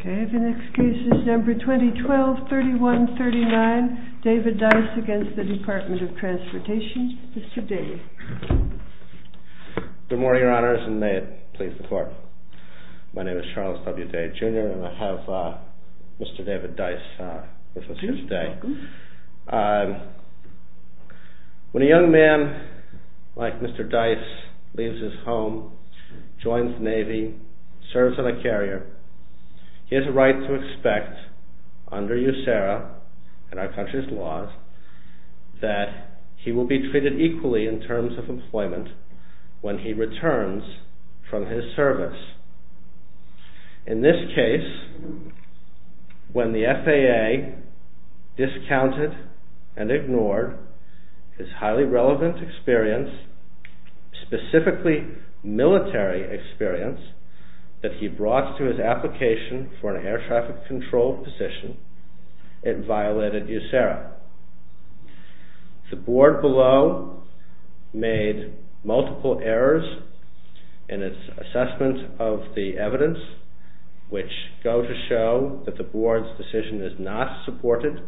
Okay, the next case is number 2012-3139, David Dice v. DEPT OF TRANSPORTATION. Mr. Dace. Good morning, Your Honors, and may it please the Court. My name is Charles W. Dace, Jr., and I have Mr. David Dice with us here today. Please, welcome. When a young man like Mr. Dice leaves his home, joins the Navy, serves on a carrier, he has a right to expect, under USARA and our country's laws, that he will be treated equally in terms of employment when he returns from his service. In this case, when the FAA discounted and ignored his highly relevant experience, specifically military experience, that he brought to his application for an air traffic control position, it violated USARA. The Board below made multiple errors in its assessment of the evidence, which go to show that the Board's decision is not supported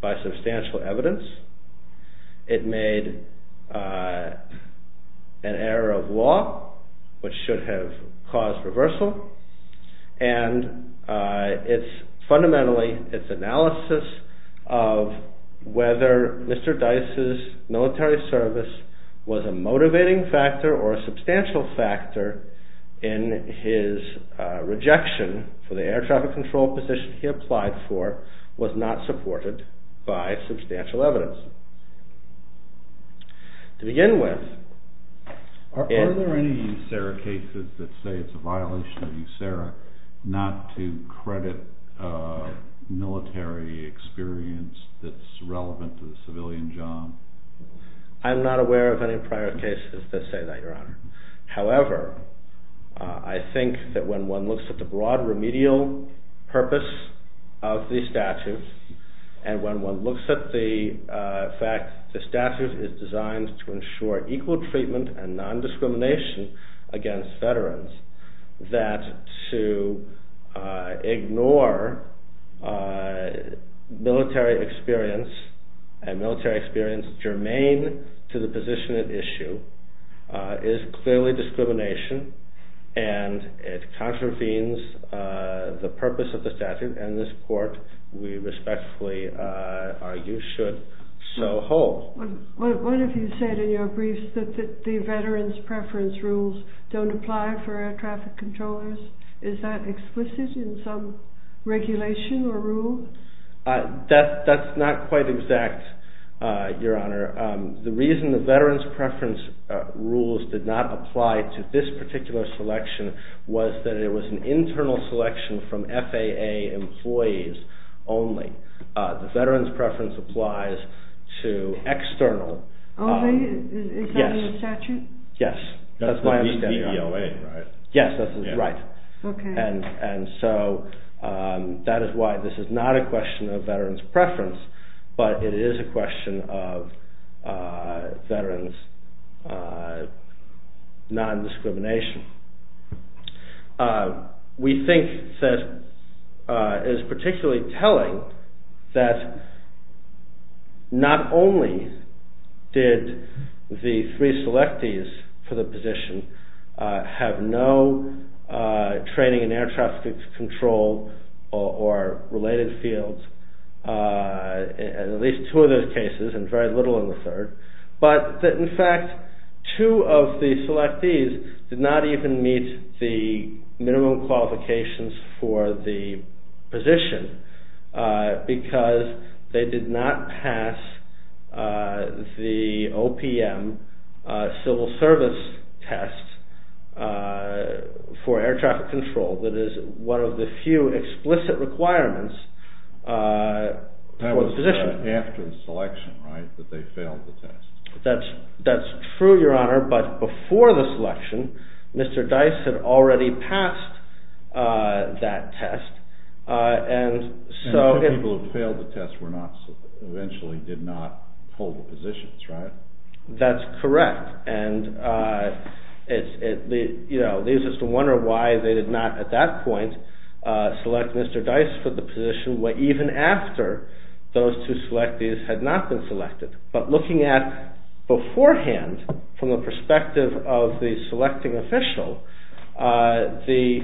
by substantial evidence. It made an error of law, which should have caused reversal, and fundamentally, its analysis of whether Mr. Dice's military service was a motivating factor or a substantial factor in his rejection for the air traffic control position he applied for was not supported by substantial evidence. To begin with... Are there any USARA cases that say it's a violation of USARA not to credit military experience that's relevant to the civilian job? I'm not aware of any prior cases that say that, Your Honor. to the position at issue is clearly discrimination, and it contravenes the purpose of the statute, and this Court, we respectfully argue, should so hold. One of you said in your briefs that the veterans' preference rules don't apply for air traffic controllers. Is that explicit in some regulation or rule? That's not quite exact, Your Honor. The reason the veterans' preference rules did not apply to this particular selection was that it was an internal selection from FAA employees only. The veterans' preference applies to external... Only? Is that in the statute? Yes. That's my understanding, Your Honor. That's the VBOA, right? Yes, that's right. And so that is why this is not a question of veterans' preference, but it is a question of veterans' non-discrimination. We think that it is particularly telling that not only did the three selectees for the position have no training in air traffic control or related fields, at least two of those cases and very little in the third, but that in fact two of the selectees did not even meet the minimum qualifications for the position because they did not pass the OPM civil service test for air traffic control. That is one of the few explicit requirements for the position. That was after the selection, right, that they failed the test? That's true, Your Honor, but before the selection, Mr. Dice had already passed that test. And the people who failed the test eventually did not hold the positions, right? That's correct. And it leaves us to wonder why they did not at that point select Mr. Dice for the position even after those two selectees had not been selected. But looking at beforehand from the perspective of the selecting official, there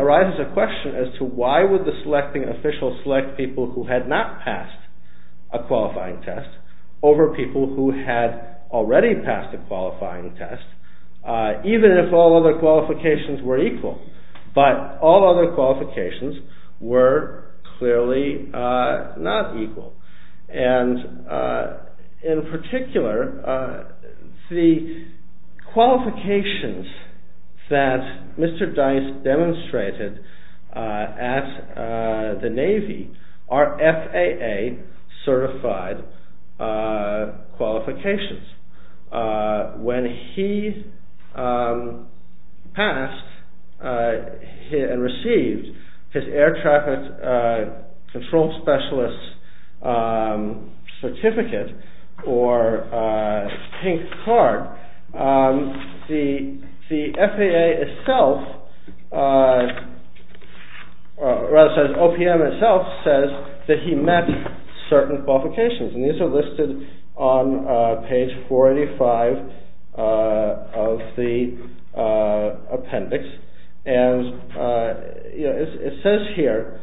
arises a question as to why would the selecting official select people who had not passed a qualifying test over people who had already passed a qualifying test, even if all other qualifications were equal, but all other qualifications were clearly not equal and in particular the qualifications that Mr. Dice demonstrated at the Navy are FAA certified qualifications. When he passed and received his air traffic control specialist certificate or pink card, the FAA itself, rather says OPM itself says that he met certain qualifications and these are listed on page 485 of the appendix and it says here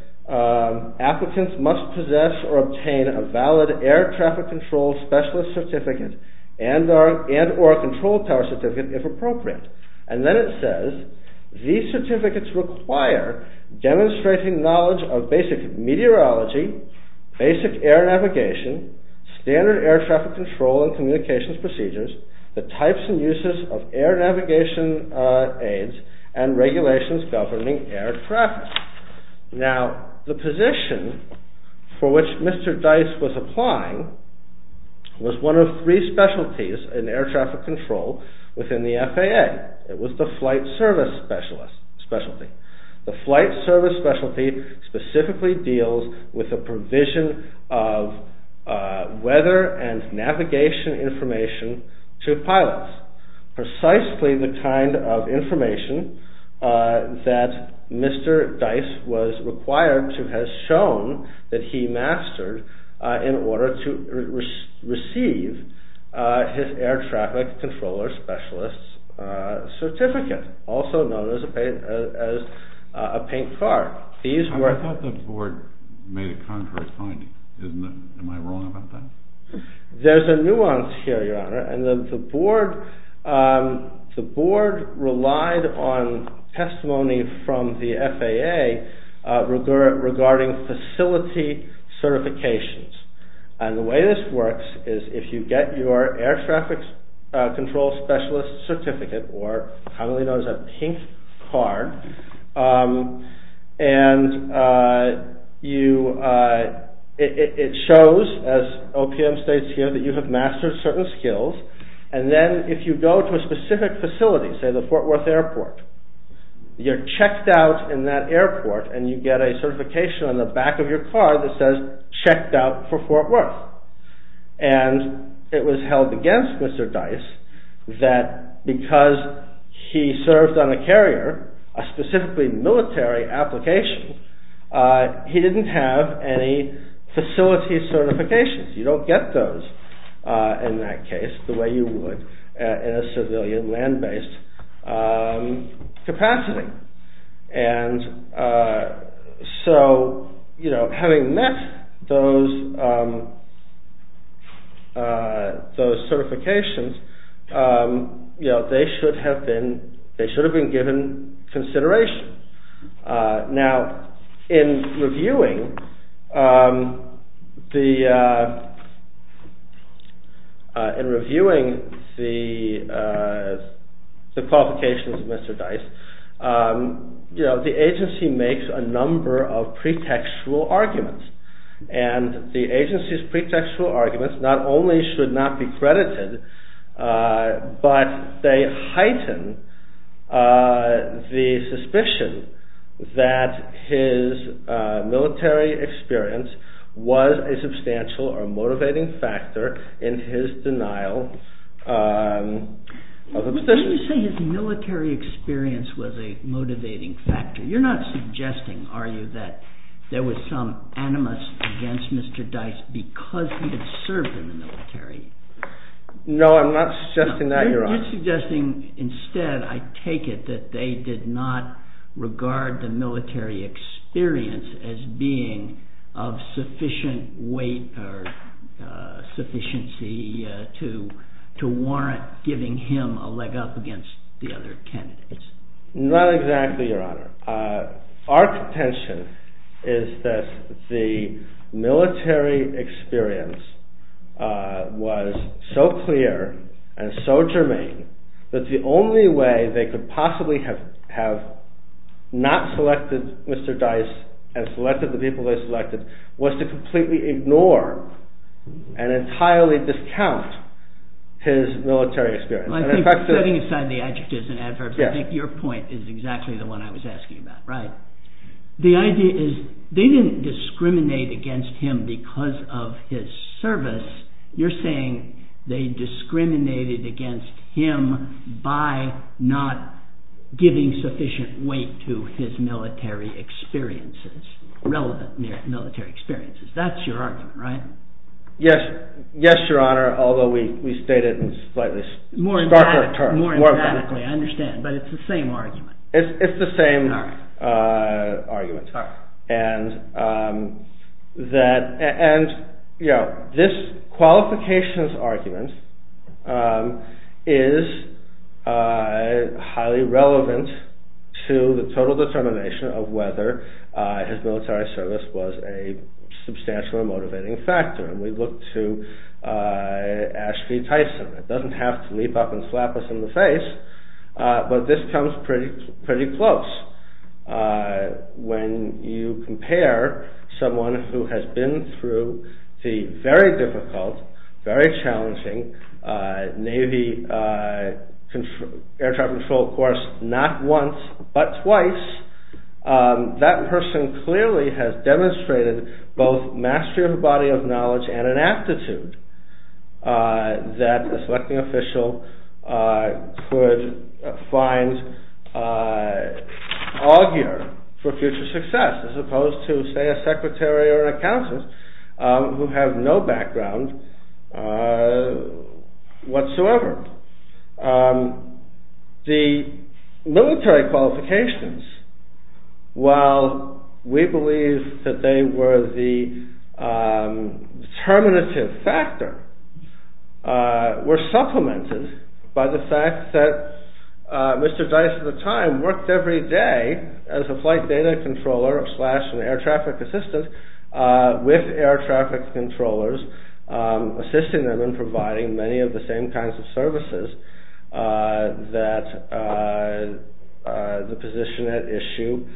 applicants must possess or obtain a valid air traffic control specialist certificate and or a control tower certificate if appropriate. And then it says these certificates require demonstrating knowledge of basic meteorology, basic air navigation, standard air traffic control and communications procedures, the types and uses of air navigation aids and regulations governing air traffic. Now the position for which Mr. Dice was applying was one of three specialties in air traffic control within the FAA. It was the flight service specialty. The flight service specialty specifically deals with the provision of weather and navigation information to pilots, precisely the kind of information that Mr. Dice was required to have shown that he mastered in order to receive his air traffic controller specialist certificate, also known as a pink card. I thought the board made a contrary finding. Am I wrong about that? There's a nuance here Your Honor and the board relied on testimony from the FAA regarding facility certifications and the way this works is if you get your air traffic control specialist certificate or commonly known as a pink card and it shows as OPM states here that you have mastered certain skills and then if you go to a specific facility, say the Fort Worth airport, you're checked out in that airport and you get a certification on the back of your car that says checked out for Fort Worth. And it was held against Mr. Dice that because he served on a carrier, a specifically military application, he didn't have any facility certifications. You don't get those in that case the way you would in a civilian land-based capacity. And so having met those certifications, they should have been given consideration. Now in reviewing the qualifications of Mr. Dice, the agency makes a number of pretextual arguments and the agency's pretextual arguments not only should not be credited but they heighten the suspicion that Mr. Dice is a pink card. They heighten the suspicion that his military experience was a substantial or motivating factor in his denial of obstetrics. When you say his military experience was a motivating factor, you're not suggesting, are you, that there was some animus against Mr. Dice because he had served in the military? No, I'm not suggesting that, Your Honor. You're suggesting instead, I take it, that they did not regard the military experience as being of sufficient weight or sufficiency to warrant giving him a leg up against the other candidates. Not exactly, Your Honor. Our contention is that the military experience was so clear and so germane that the only way they could possibly have not selected Mr. Dice and selected the people they selected was to completely ignore and entirely discount his military experience. Setting aside the adjectives and adverbs, I think your point is exactly the one I was asking about, right? The idea is they didn't discriminate against him because of his service. You're saying they discriminated against him by not giving sufficient weight to his military experiences, relevant military experiences. That's your argument, right? Yes, Your Honor, although we state it in slightly starker terms. More emphatically, I understand, but it's the same argument. This qualifications argument is highly relevant to the total determination of whether his military service was a substantial and motivating factor. We look to Ashby Tyson. It doesn't have to leap up and slap us in the face, but this comes pretty close. When you compare someone who has been through the very difficult, very challenging Navy Air Traffic Control course not once, but twice, that person clearly has demonstrated both mastery of the body of knowledge and an aptitude that a selecting official could find augur for future success, as opposed to, say, a secretary or a counselor who have no background whatsoever. The military qualifications, while we believe that they were the determinative factor, were supplemented by the fact that Mr. Tyson at the time worked every day as a flight data controller slash an air traffic assistant with air traffic controllers, assisting them in providing many of the same kinds of services that the position at issue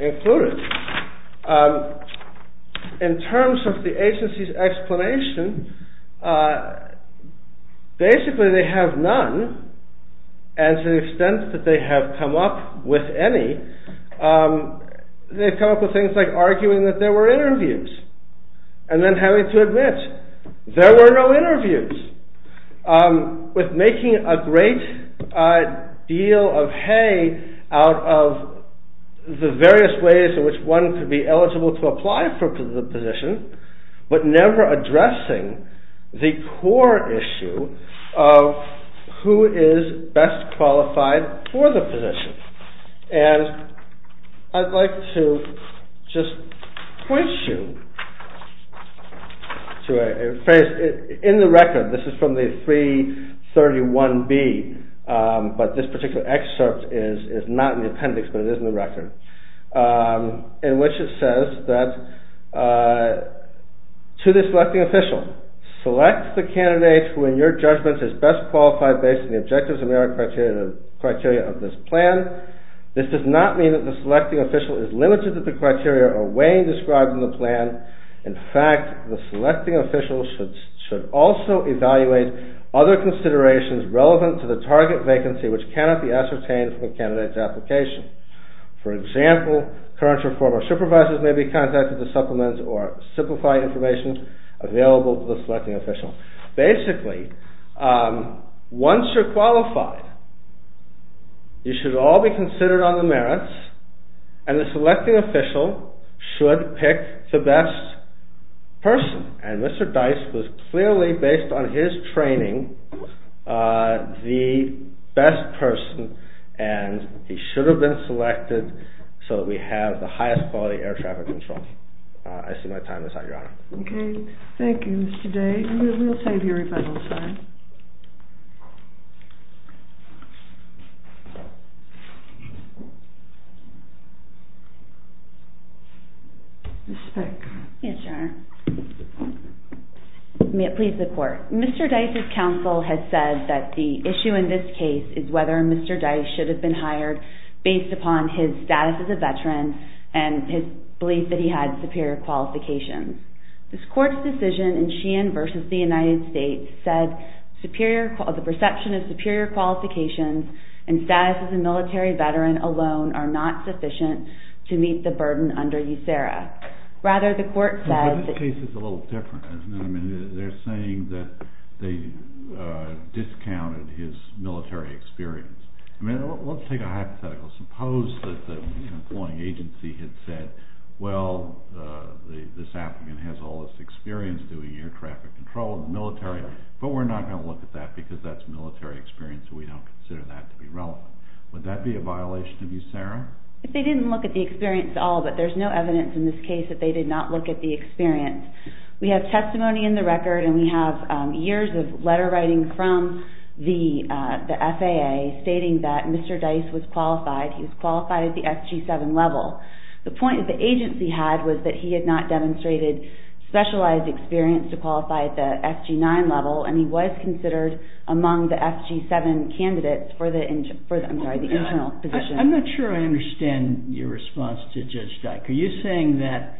included. In terms of the agency's explanation, basically they have none, and to the extent that they have come up with any, they've come up with things like arguing that there were interviews, and then having to admit there were no interviews. With making a great deal of hay out of the various ways in which one could be eligible to apply for the position, but never addressing the core issue of who is best qualified for the position. I'd like to just point you to a phrase in the record, this is from the 331B, but this particular excerpt is not in the appendix, but it is in the record, in which it says that to the selecting official, select the candidate who in your judgment is best qualified based on the objectives and merit criteria of this plan. This does not mean that the selecting official is limited to the criteria or weighing described in the plan. In fact, the selecting official should also evaluate other considerations relevant to the target vacancy which cannot be ascertained from a candidate's application. For example, current or former supervisors may be contacted to supplement or simplify information available to the selecting official. Basically, once you're qualified, you should all be considered on the merits, and the selecting official should pick the best person. And Mr. Dice was clearly, based on his training, the best person, and he should have been selected so that we have the highest quality air traffic control. I see my time is up, Your Honor. Okay, thank you, Mr. Day. We'll save your rebuttal time. Ms. Speck. Yes, Your Honor. May it please the Court. Mr. Dice's counsel has said that the issue in this case is whether Mr. Dice should have been hired based upon his status as a veteran and his belief that he had superior qualifications. This Court's decision in Sheehan v. The United States said the perception of superior qualifications and status as a military veteran alone are not sufficient to meet the burden under USERRA. Rather, the Court said… But this case is a little different, isn't it? I mean, they're saying that they discounted his military experience. I mean, let's take a hypothetical. Suppose that the employing agency had said, well, this applicant has all this experience doing air traffic control in the military, but we're not going to look at that because that's military experience and we don't consider that to be relevant. Would that be a violation of USERRA? They didn't look at the experience at all, but there's no evidence in this case that they did not look at the experience. We have testimony in the record and we have years of letter writing from the FAA stating that Mr. Dice was qualified. He was qualified at the FG-7 level. The point that the agency had was that he had not demonstrated specialized experience to qualify at the FG-9 level and he was considered among the FG-7 candidates for the internal position. I'm not sure I understand your response to Judge Dice. Are you saying that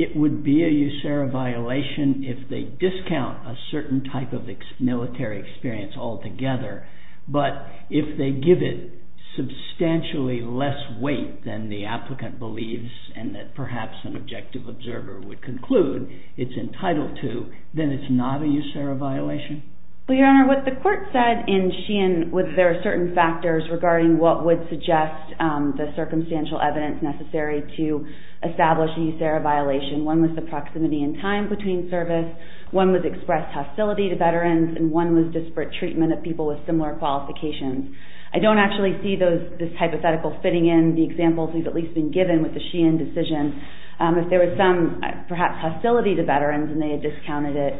it would be a USERRA violation if they discount a certain type of military experience altogether, but if they give it substantially less weight than the applicant believes and that perhaps an objective observer would conclude it's entitled to, then it's not a USERRA violation? Your Honor, what the court said in Sheehan was there are certain factors regarding what would suggest the circumstantial evidence necessary to establish a USERRA violation. One was the proximity and time between service, one was expressed hostility to veterans, and one was disparate treatment of people with similar qualifications. I don't actually see this hypothetical fitting in the examples we've at least been given with the Sheehan decision. If there was some perhaps hostility to veterans and they had discounted it,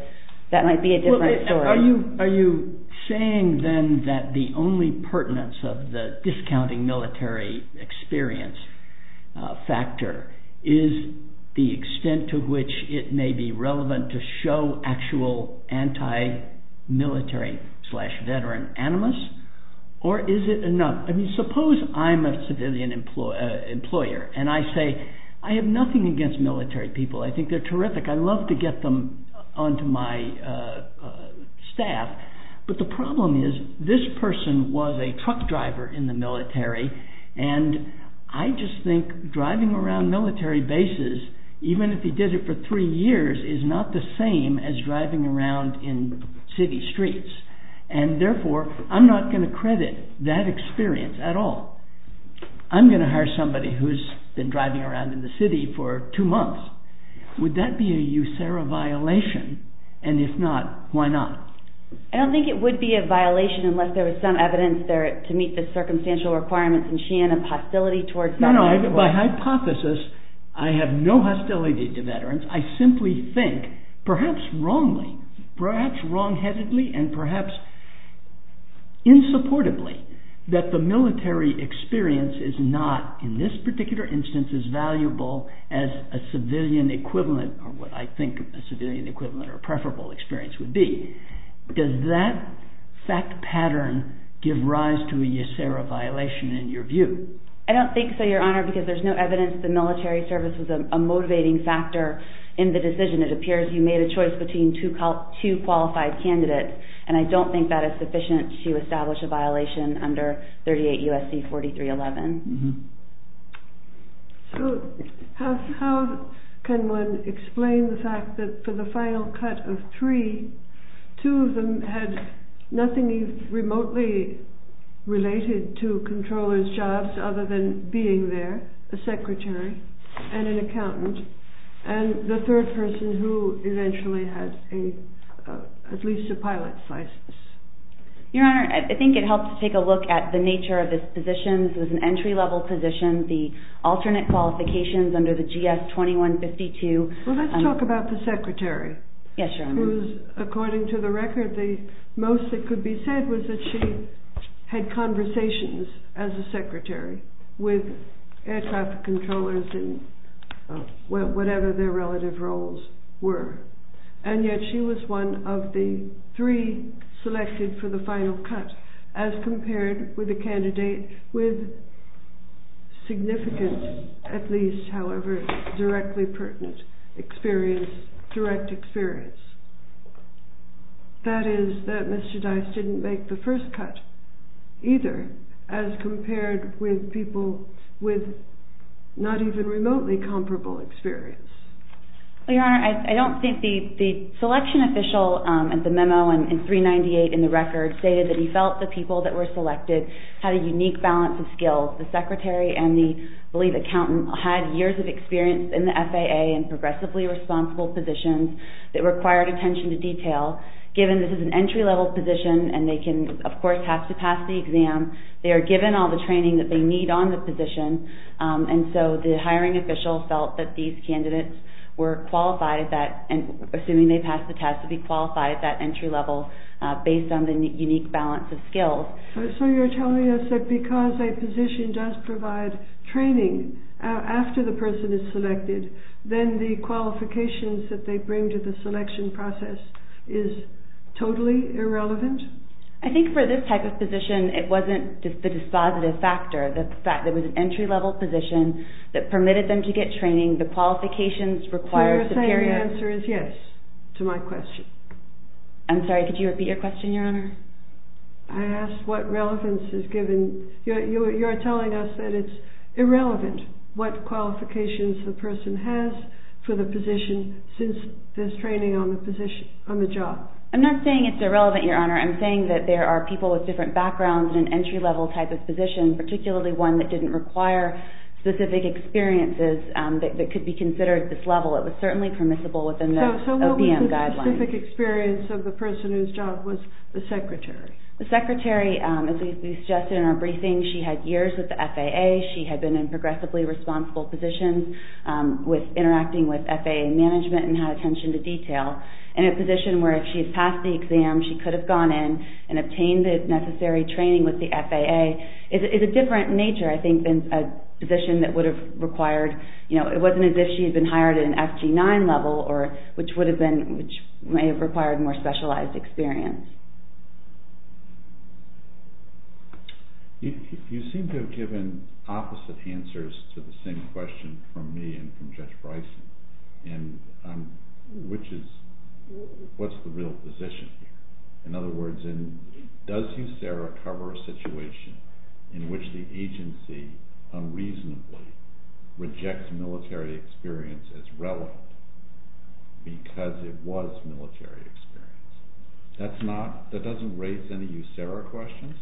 that might be a different story. Are you saying then that the only pertinence of the discounting military experience factor is the extent to which it may be relevant to show actual anti-military slash veteran animus? Or is it enough? Suppose I'm a civilian employer and I say I have nothing against military people. I think they're terrific. I'd love to get them onto my staff. But the problem is this person was a truck driver in the military, and I just think driving around military bases, even if he did it for three years, is not the same as driving around in city streets. And therefore, I'm not going to credit that experience at all. I'm going to hire somebody who's been driving around in the city for two months. Would that be a USERRA violation? And if not, why not? I don't think it would be a violation unless there was some evidence to meet the circumstantial requirements in Sheehan of hostility towards veterans. No, no. By hypothesis, I have no hostility to veterans. I simply think, perhaps wrongly, perhaps wrong-headedly, and perhaps insupportably, that the military experience is not, in this particular instance, as valuable as a civilian equivalent or what I think a civilian equivalent or preferable experience would be. Does that fact pattern give rise to a USERRA violation in your view? I don't think so, Your Honor, because there's no evidence the military service was a motivating factor in the decision. It appears you made a choice between two qualified candidates, and I don't think that is sufficient to establish a violation under 38 U.S.C. 4311. So how can one explain the fact that for the final cut of three, two of them had nothing remotely related to controller's jobs other than being there, a secretary and an accountant, and the third person who eventually had at least a pilot's license? Your Honor, I think it helps to take a look at the nature of this position. This was an entry-level position. The alternate qualifications under the GS 2152… Well, let's talk about the secretary. Yes, Your Honor. According to the record, the most that could be said was that she had conversations as a secretary with air traffic controllers in whatever their relative roles were. And yet she was one of the three selected for the final cut as compared with a candidate with significant, at least, however, directly pertinent experience, direct experience. That is, that Mr. Dice didn't make the first cut either as compared with people with not even remotely comparable experience. Well, Your Honor, I don't think the selection official at the memo in 398 in the record stated that he felt the people that were selected had a unique balance of skills. The secretary and the, I believe, accountant had years of experience in the FAA and progressively responsible positions that required attention to detail. Given this is an entry-level position and they can, of course, have to pass the exam, they are given all the training that they need on the position. And so the hiring official felt that these candidates were qualified at that, assuming they passed the test, to be qualified at that entry level based on the unique balance of skills. So you're telling us that because a position does provide training after the person is selected, then the qualifications that they bring to the selection process is totally irrelevant? I think for this type of position, it wasn't the dispositive factor. There was an entry-level position that permitted them to get training. The qualifications required superior... So you're saying the answer is yes to my question? I'm sorry, could you repeat your question, Your Honor? I asked what relevance is given. You're telling us that it's irrelevant what qualifications the person has for the position since there's training on the position, on the job. I'm not saying it's irrelevant, Your Honor. I'm saying that there are people with different backgrounds in an entry-level type of position, particularly one that didn't require specific experiences that could be considered at this level. It was certainly permissible within the OPM guidelines. So what was the specific experience of the person whose job was the secretary? The secretary, as we suggested in our briefing, she had years with the FAA. She had been in progressively responsible positions interacting with FAA management and had attention to detail. And a position where if she had passed the exam, she could have gone in and obtained the necessary training with the FAA is a different nature, I think, than a position that would have required... It wasn't as if she had been hired at an FG9 level, which may have required more specialized experience. You seem to have given opposite answers to the same question from me and from Judge Bryson, which is, what's the real position? In other words, does USERRA cover a situation in which the agency unreasonably rejects military experience as relevant because it was military experience? That doesn't raise any USERRA questions?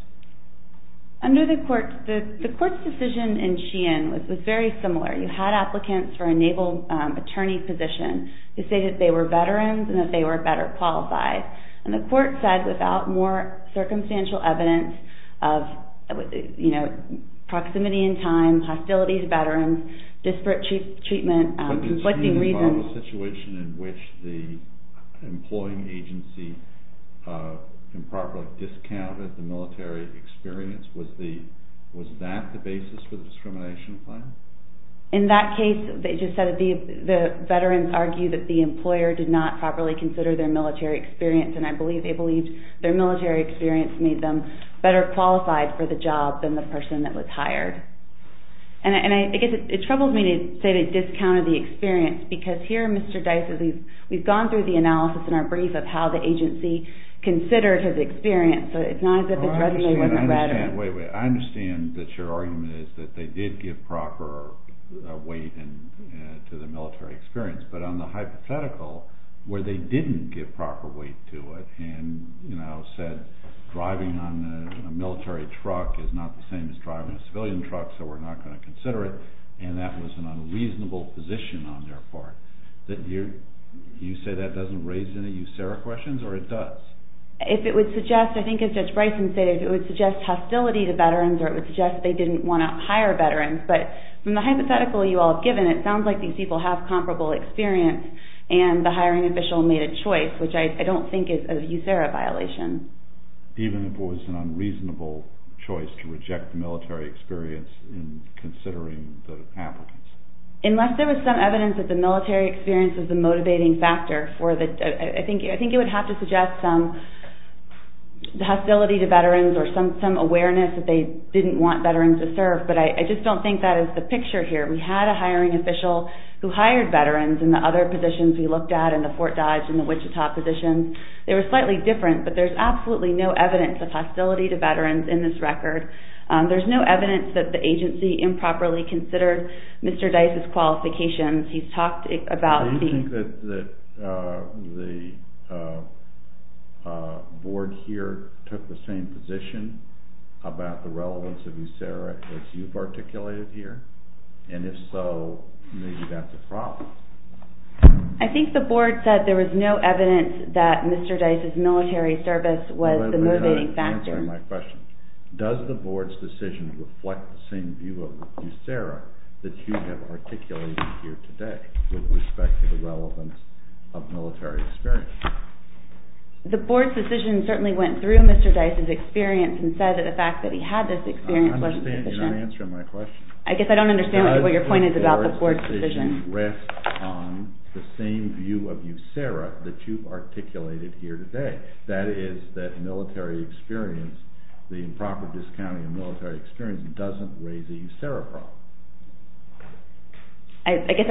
The court's decision in Sheehan was very similar. You had applicants for a naval attorney position to say that they were veterans and that they were better qualified. And the court said, without more circumstantial evidence of proximity in time, hostility to veterans, disparate treatment... But did Sheehan involve a situation in which the employing agency improperly discounted the military experience? Was that the basis for the discrimination plan? In that case, they just said that the veterans argued that the employer did not properly consider their military experience. And I believe they believed their military experience made them better qualified for the job than the person that was hired. And I guess it troubles me to say they discounted the experience, because here, Mr. Dice, we've gone through the analysis in our brief of how the agency considered his experience, so it's not as if the judgment wasn't better. I understand that your argument is that they did give proper weight to the military experience, but on the hypothetical, where they didn't give proper weight to it, and said driving on a military truck is not the same as driving a civilian truck, so we're not going to consider it, and that was an unreasonable position on their part. Do you say that doesn't raise any USARA questions, or it does? If it would suggest, I think as Judge Bryson said, if it would suggest hostility to veterans, or it would suggest they didn't want to hire veterans. But from the hypothetical you all have given, it sounds like these people have comparable experience, and the hiring official made a choice, which I don't think is a USARA violation. Even if it was an unreasonable choice to reject the military experience in considering the applicants? Unless there was some evidence that the military experience is the motivating factor, I think it would have to suggest some hostility to veterans, or some awareness that they didn't want veterans to serve, but I just don't think that is the picture here. We had a hiring official who hired veterans in the other positions we looked at, in the Fort Dodge and the Wichita positions. They were slightly different, but there's absolutely no evidence of hostility to veterans in this record. There's no evidence that the agency improperly considered Mr. Dice's qualifications. Do you think that the board here took the same position about the relevance of USARA as you've articulated here? And if so, maybe that's a problem. I think the board said there was no evidence that Mr. Dice's military service was the motivating factor. Does the board's decision reflect the same view of USARA that you have articulated here today with respect to the relevance of military experience? The board's decision certainly went through Mr. Dice's experience and said that the fact that he had this experience wasn't sufficient. I don't understand your answer to my question. I guess I don't understand what your point is about the board's decision. I guess I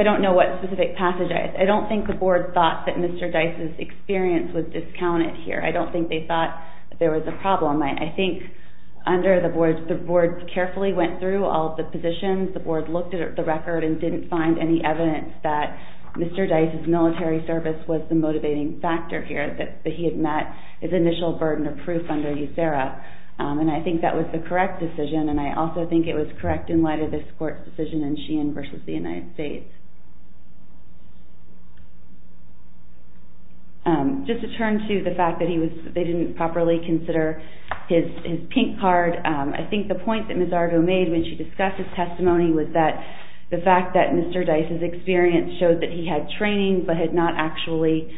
don't know what specific passage is. I don't think the board thought that Mr. Dice's experience was discounted here. I don't think they thought there was a problem. I think the board carefully went through all the positions. The board looked at the record and didn't find any evidence that Mr. Dice's military service was the motivating factor here, that he had met his initial burden of proof under USARA. And I think that was the correct decision. And I also think it was correct in light of this court's decision in Sheehan v. The United States. Just to turn to the fact that they didn't properly consider his pink card, I think the point that Ms. Argo made when she discussed his testimony was that the fact that Mr. Dice's experience showed that he had training but had not actually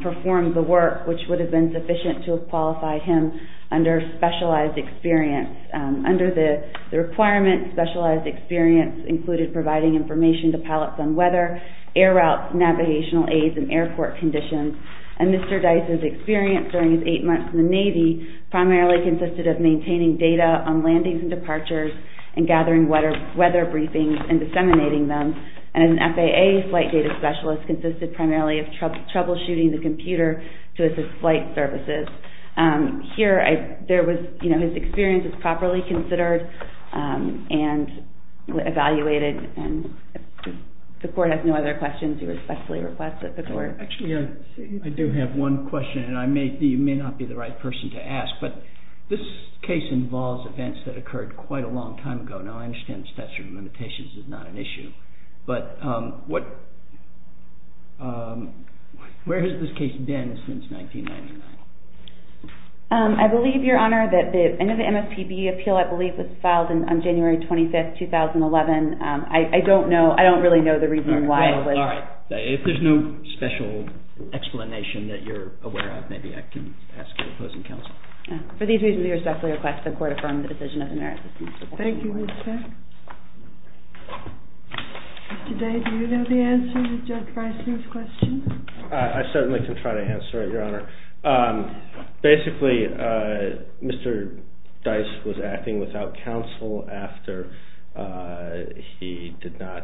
performed the work which would have been sufficient to have qualified him under specialized experience. Under the requirement, specialized experience included providing information to pilots on weather, air routes, navigational aids, and airport conditions. And Mr. Dice's experience during his eight months in the Navy primarily consisted of maintaining data on landings and departures and gathering weather briefings and disseminating them. And as an FAA flight data specialist, it consisted primarily of troubleshooting the computer to assist flight services. Here, his experience is properly considered and evaluated. And if the court has no other questions, you respectfully request that the court... Actually, I do have one question, and you may not be the right person to ask. But this case involves events that occurred quite a long time ago. Now, I understand the statute of limitations is not an issue. But what... Where has this case been since 1999? I believe, Your Honor, that the end of the MSPB appeal, I believe, was filed on January 25, 2011. I don't know. I don't really know the reason why. All right. If there's no special explanation that you're aware of, maybe I can ask your opposing counsel. For these reasons, we respectfully request the court affirm the decision of the merit system. Thank you, Mr. Day. Mr. Day, do you know the answer to Judge Breisling's question? I certainly can try to answer it, Your Honor. Basically, Mr. Dice was acting without counsel after he did not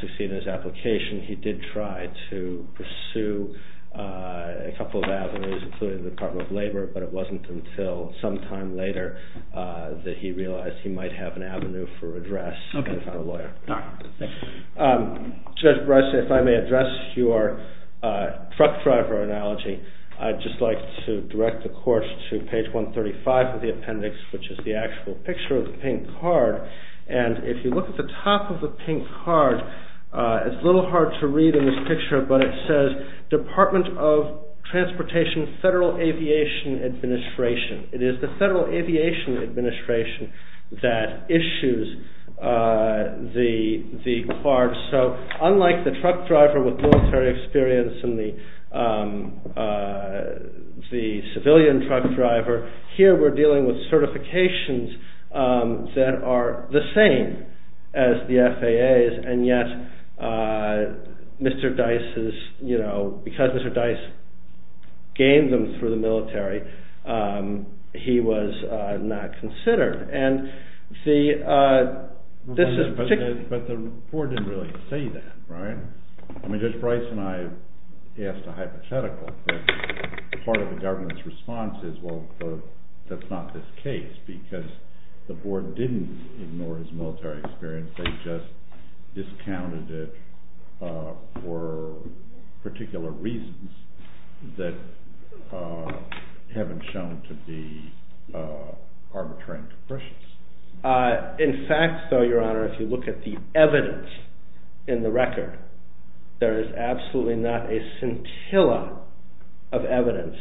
succeed in his application. He did try to pursue a couple of avenues, including the Department of Labor. But it wasn't until some time later that he realized he might have an avenue for redress and found a lawyer. All right. Judge Breisling, if I may address your truck driver analogy, I'd just like to direct the court to page 135 of the appendix, which is the actual picture of the pink card. And if you look at the top of the pink card, it's a little hard to read in this picture, but it says Department of Transportation Federal Aviation Administration. It is the Federal Aviation Administration that issues the card. So unlike the truck driver with military experience and the civilian truck driver, here we're dealing with certifications that are the same as the FAA's. And yet, because Mr. Dice gained them through the military, he was not considered. But the board didn't really say that, right? I mean, Judge Breis and I asked a hypothetical, but part of the government's response is, well, that's not this case, because the board didn't ignore his military experience. They just discounted it for particular reasons that haven't shown to be arbitrary impressions. In fact, though, Your Honor, if you look at the evidence in the record, there is absolutely not a scintilla of evidence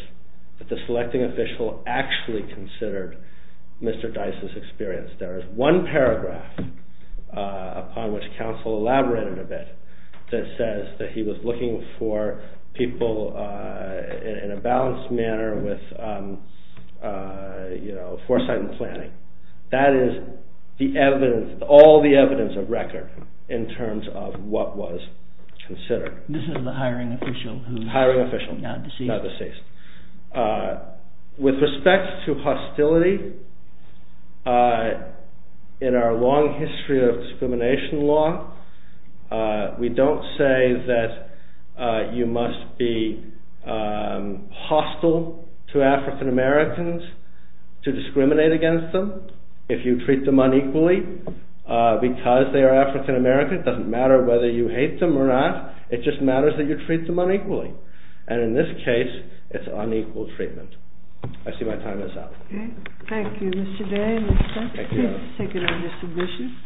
that the selecting official actually considered Mr. Dice's experience. There is one paragraph, upon which counsel elaborated a bit, that says that he was looking for people in a balanced manner with foresight and planning. That is all the evidence of record in terms of what was considered. This is the hiring official who is not deceased. Hiring official, not deceased. With respect to hostility, in our long history of discrimination law, we don't say that you must be hostile to African-Americans to discriminate against them. If you treat them unequally, because they are African-American, it doesn't matter whether you hate them or not, it just matters that you treat them unequally. And in this case, it's unequal treatment. I see my time is up. Thank you, Mr. Day. Thank you, Your Honor.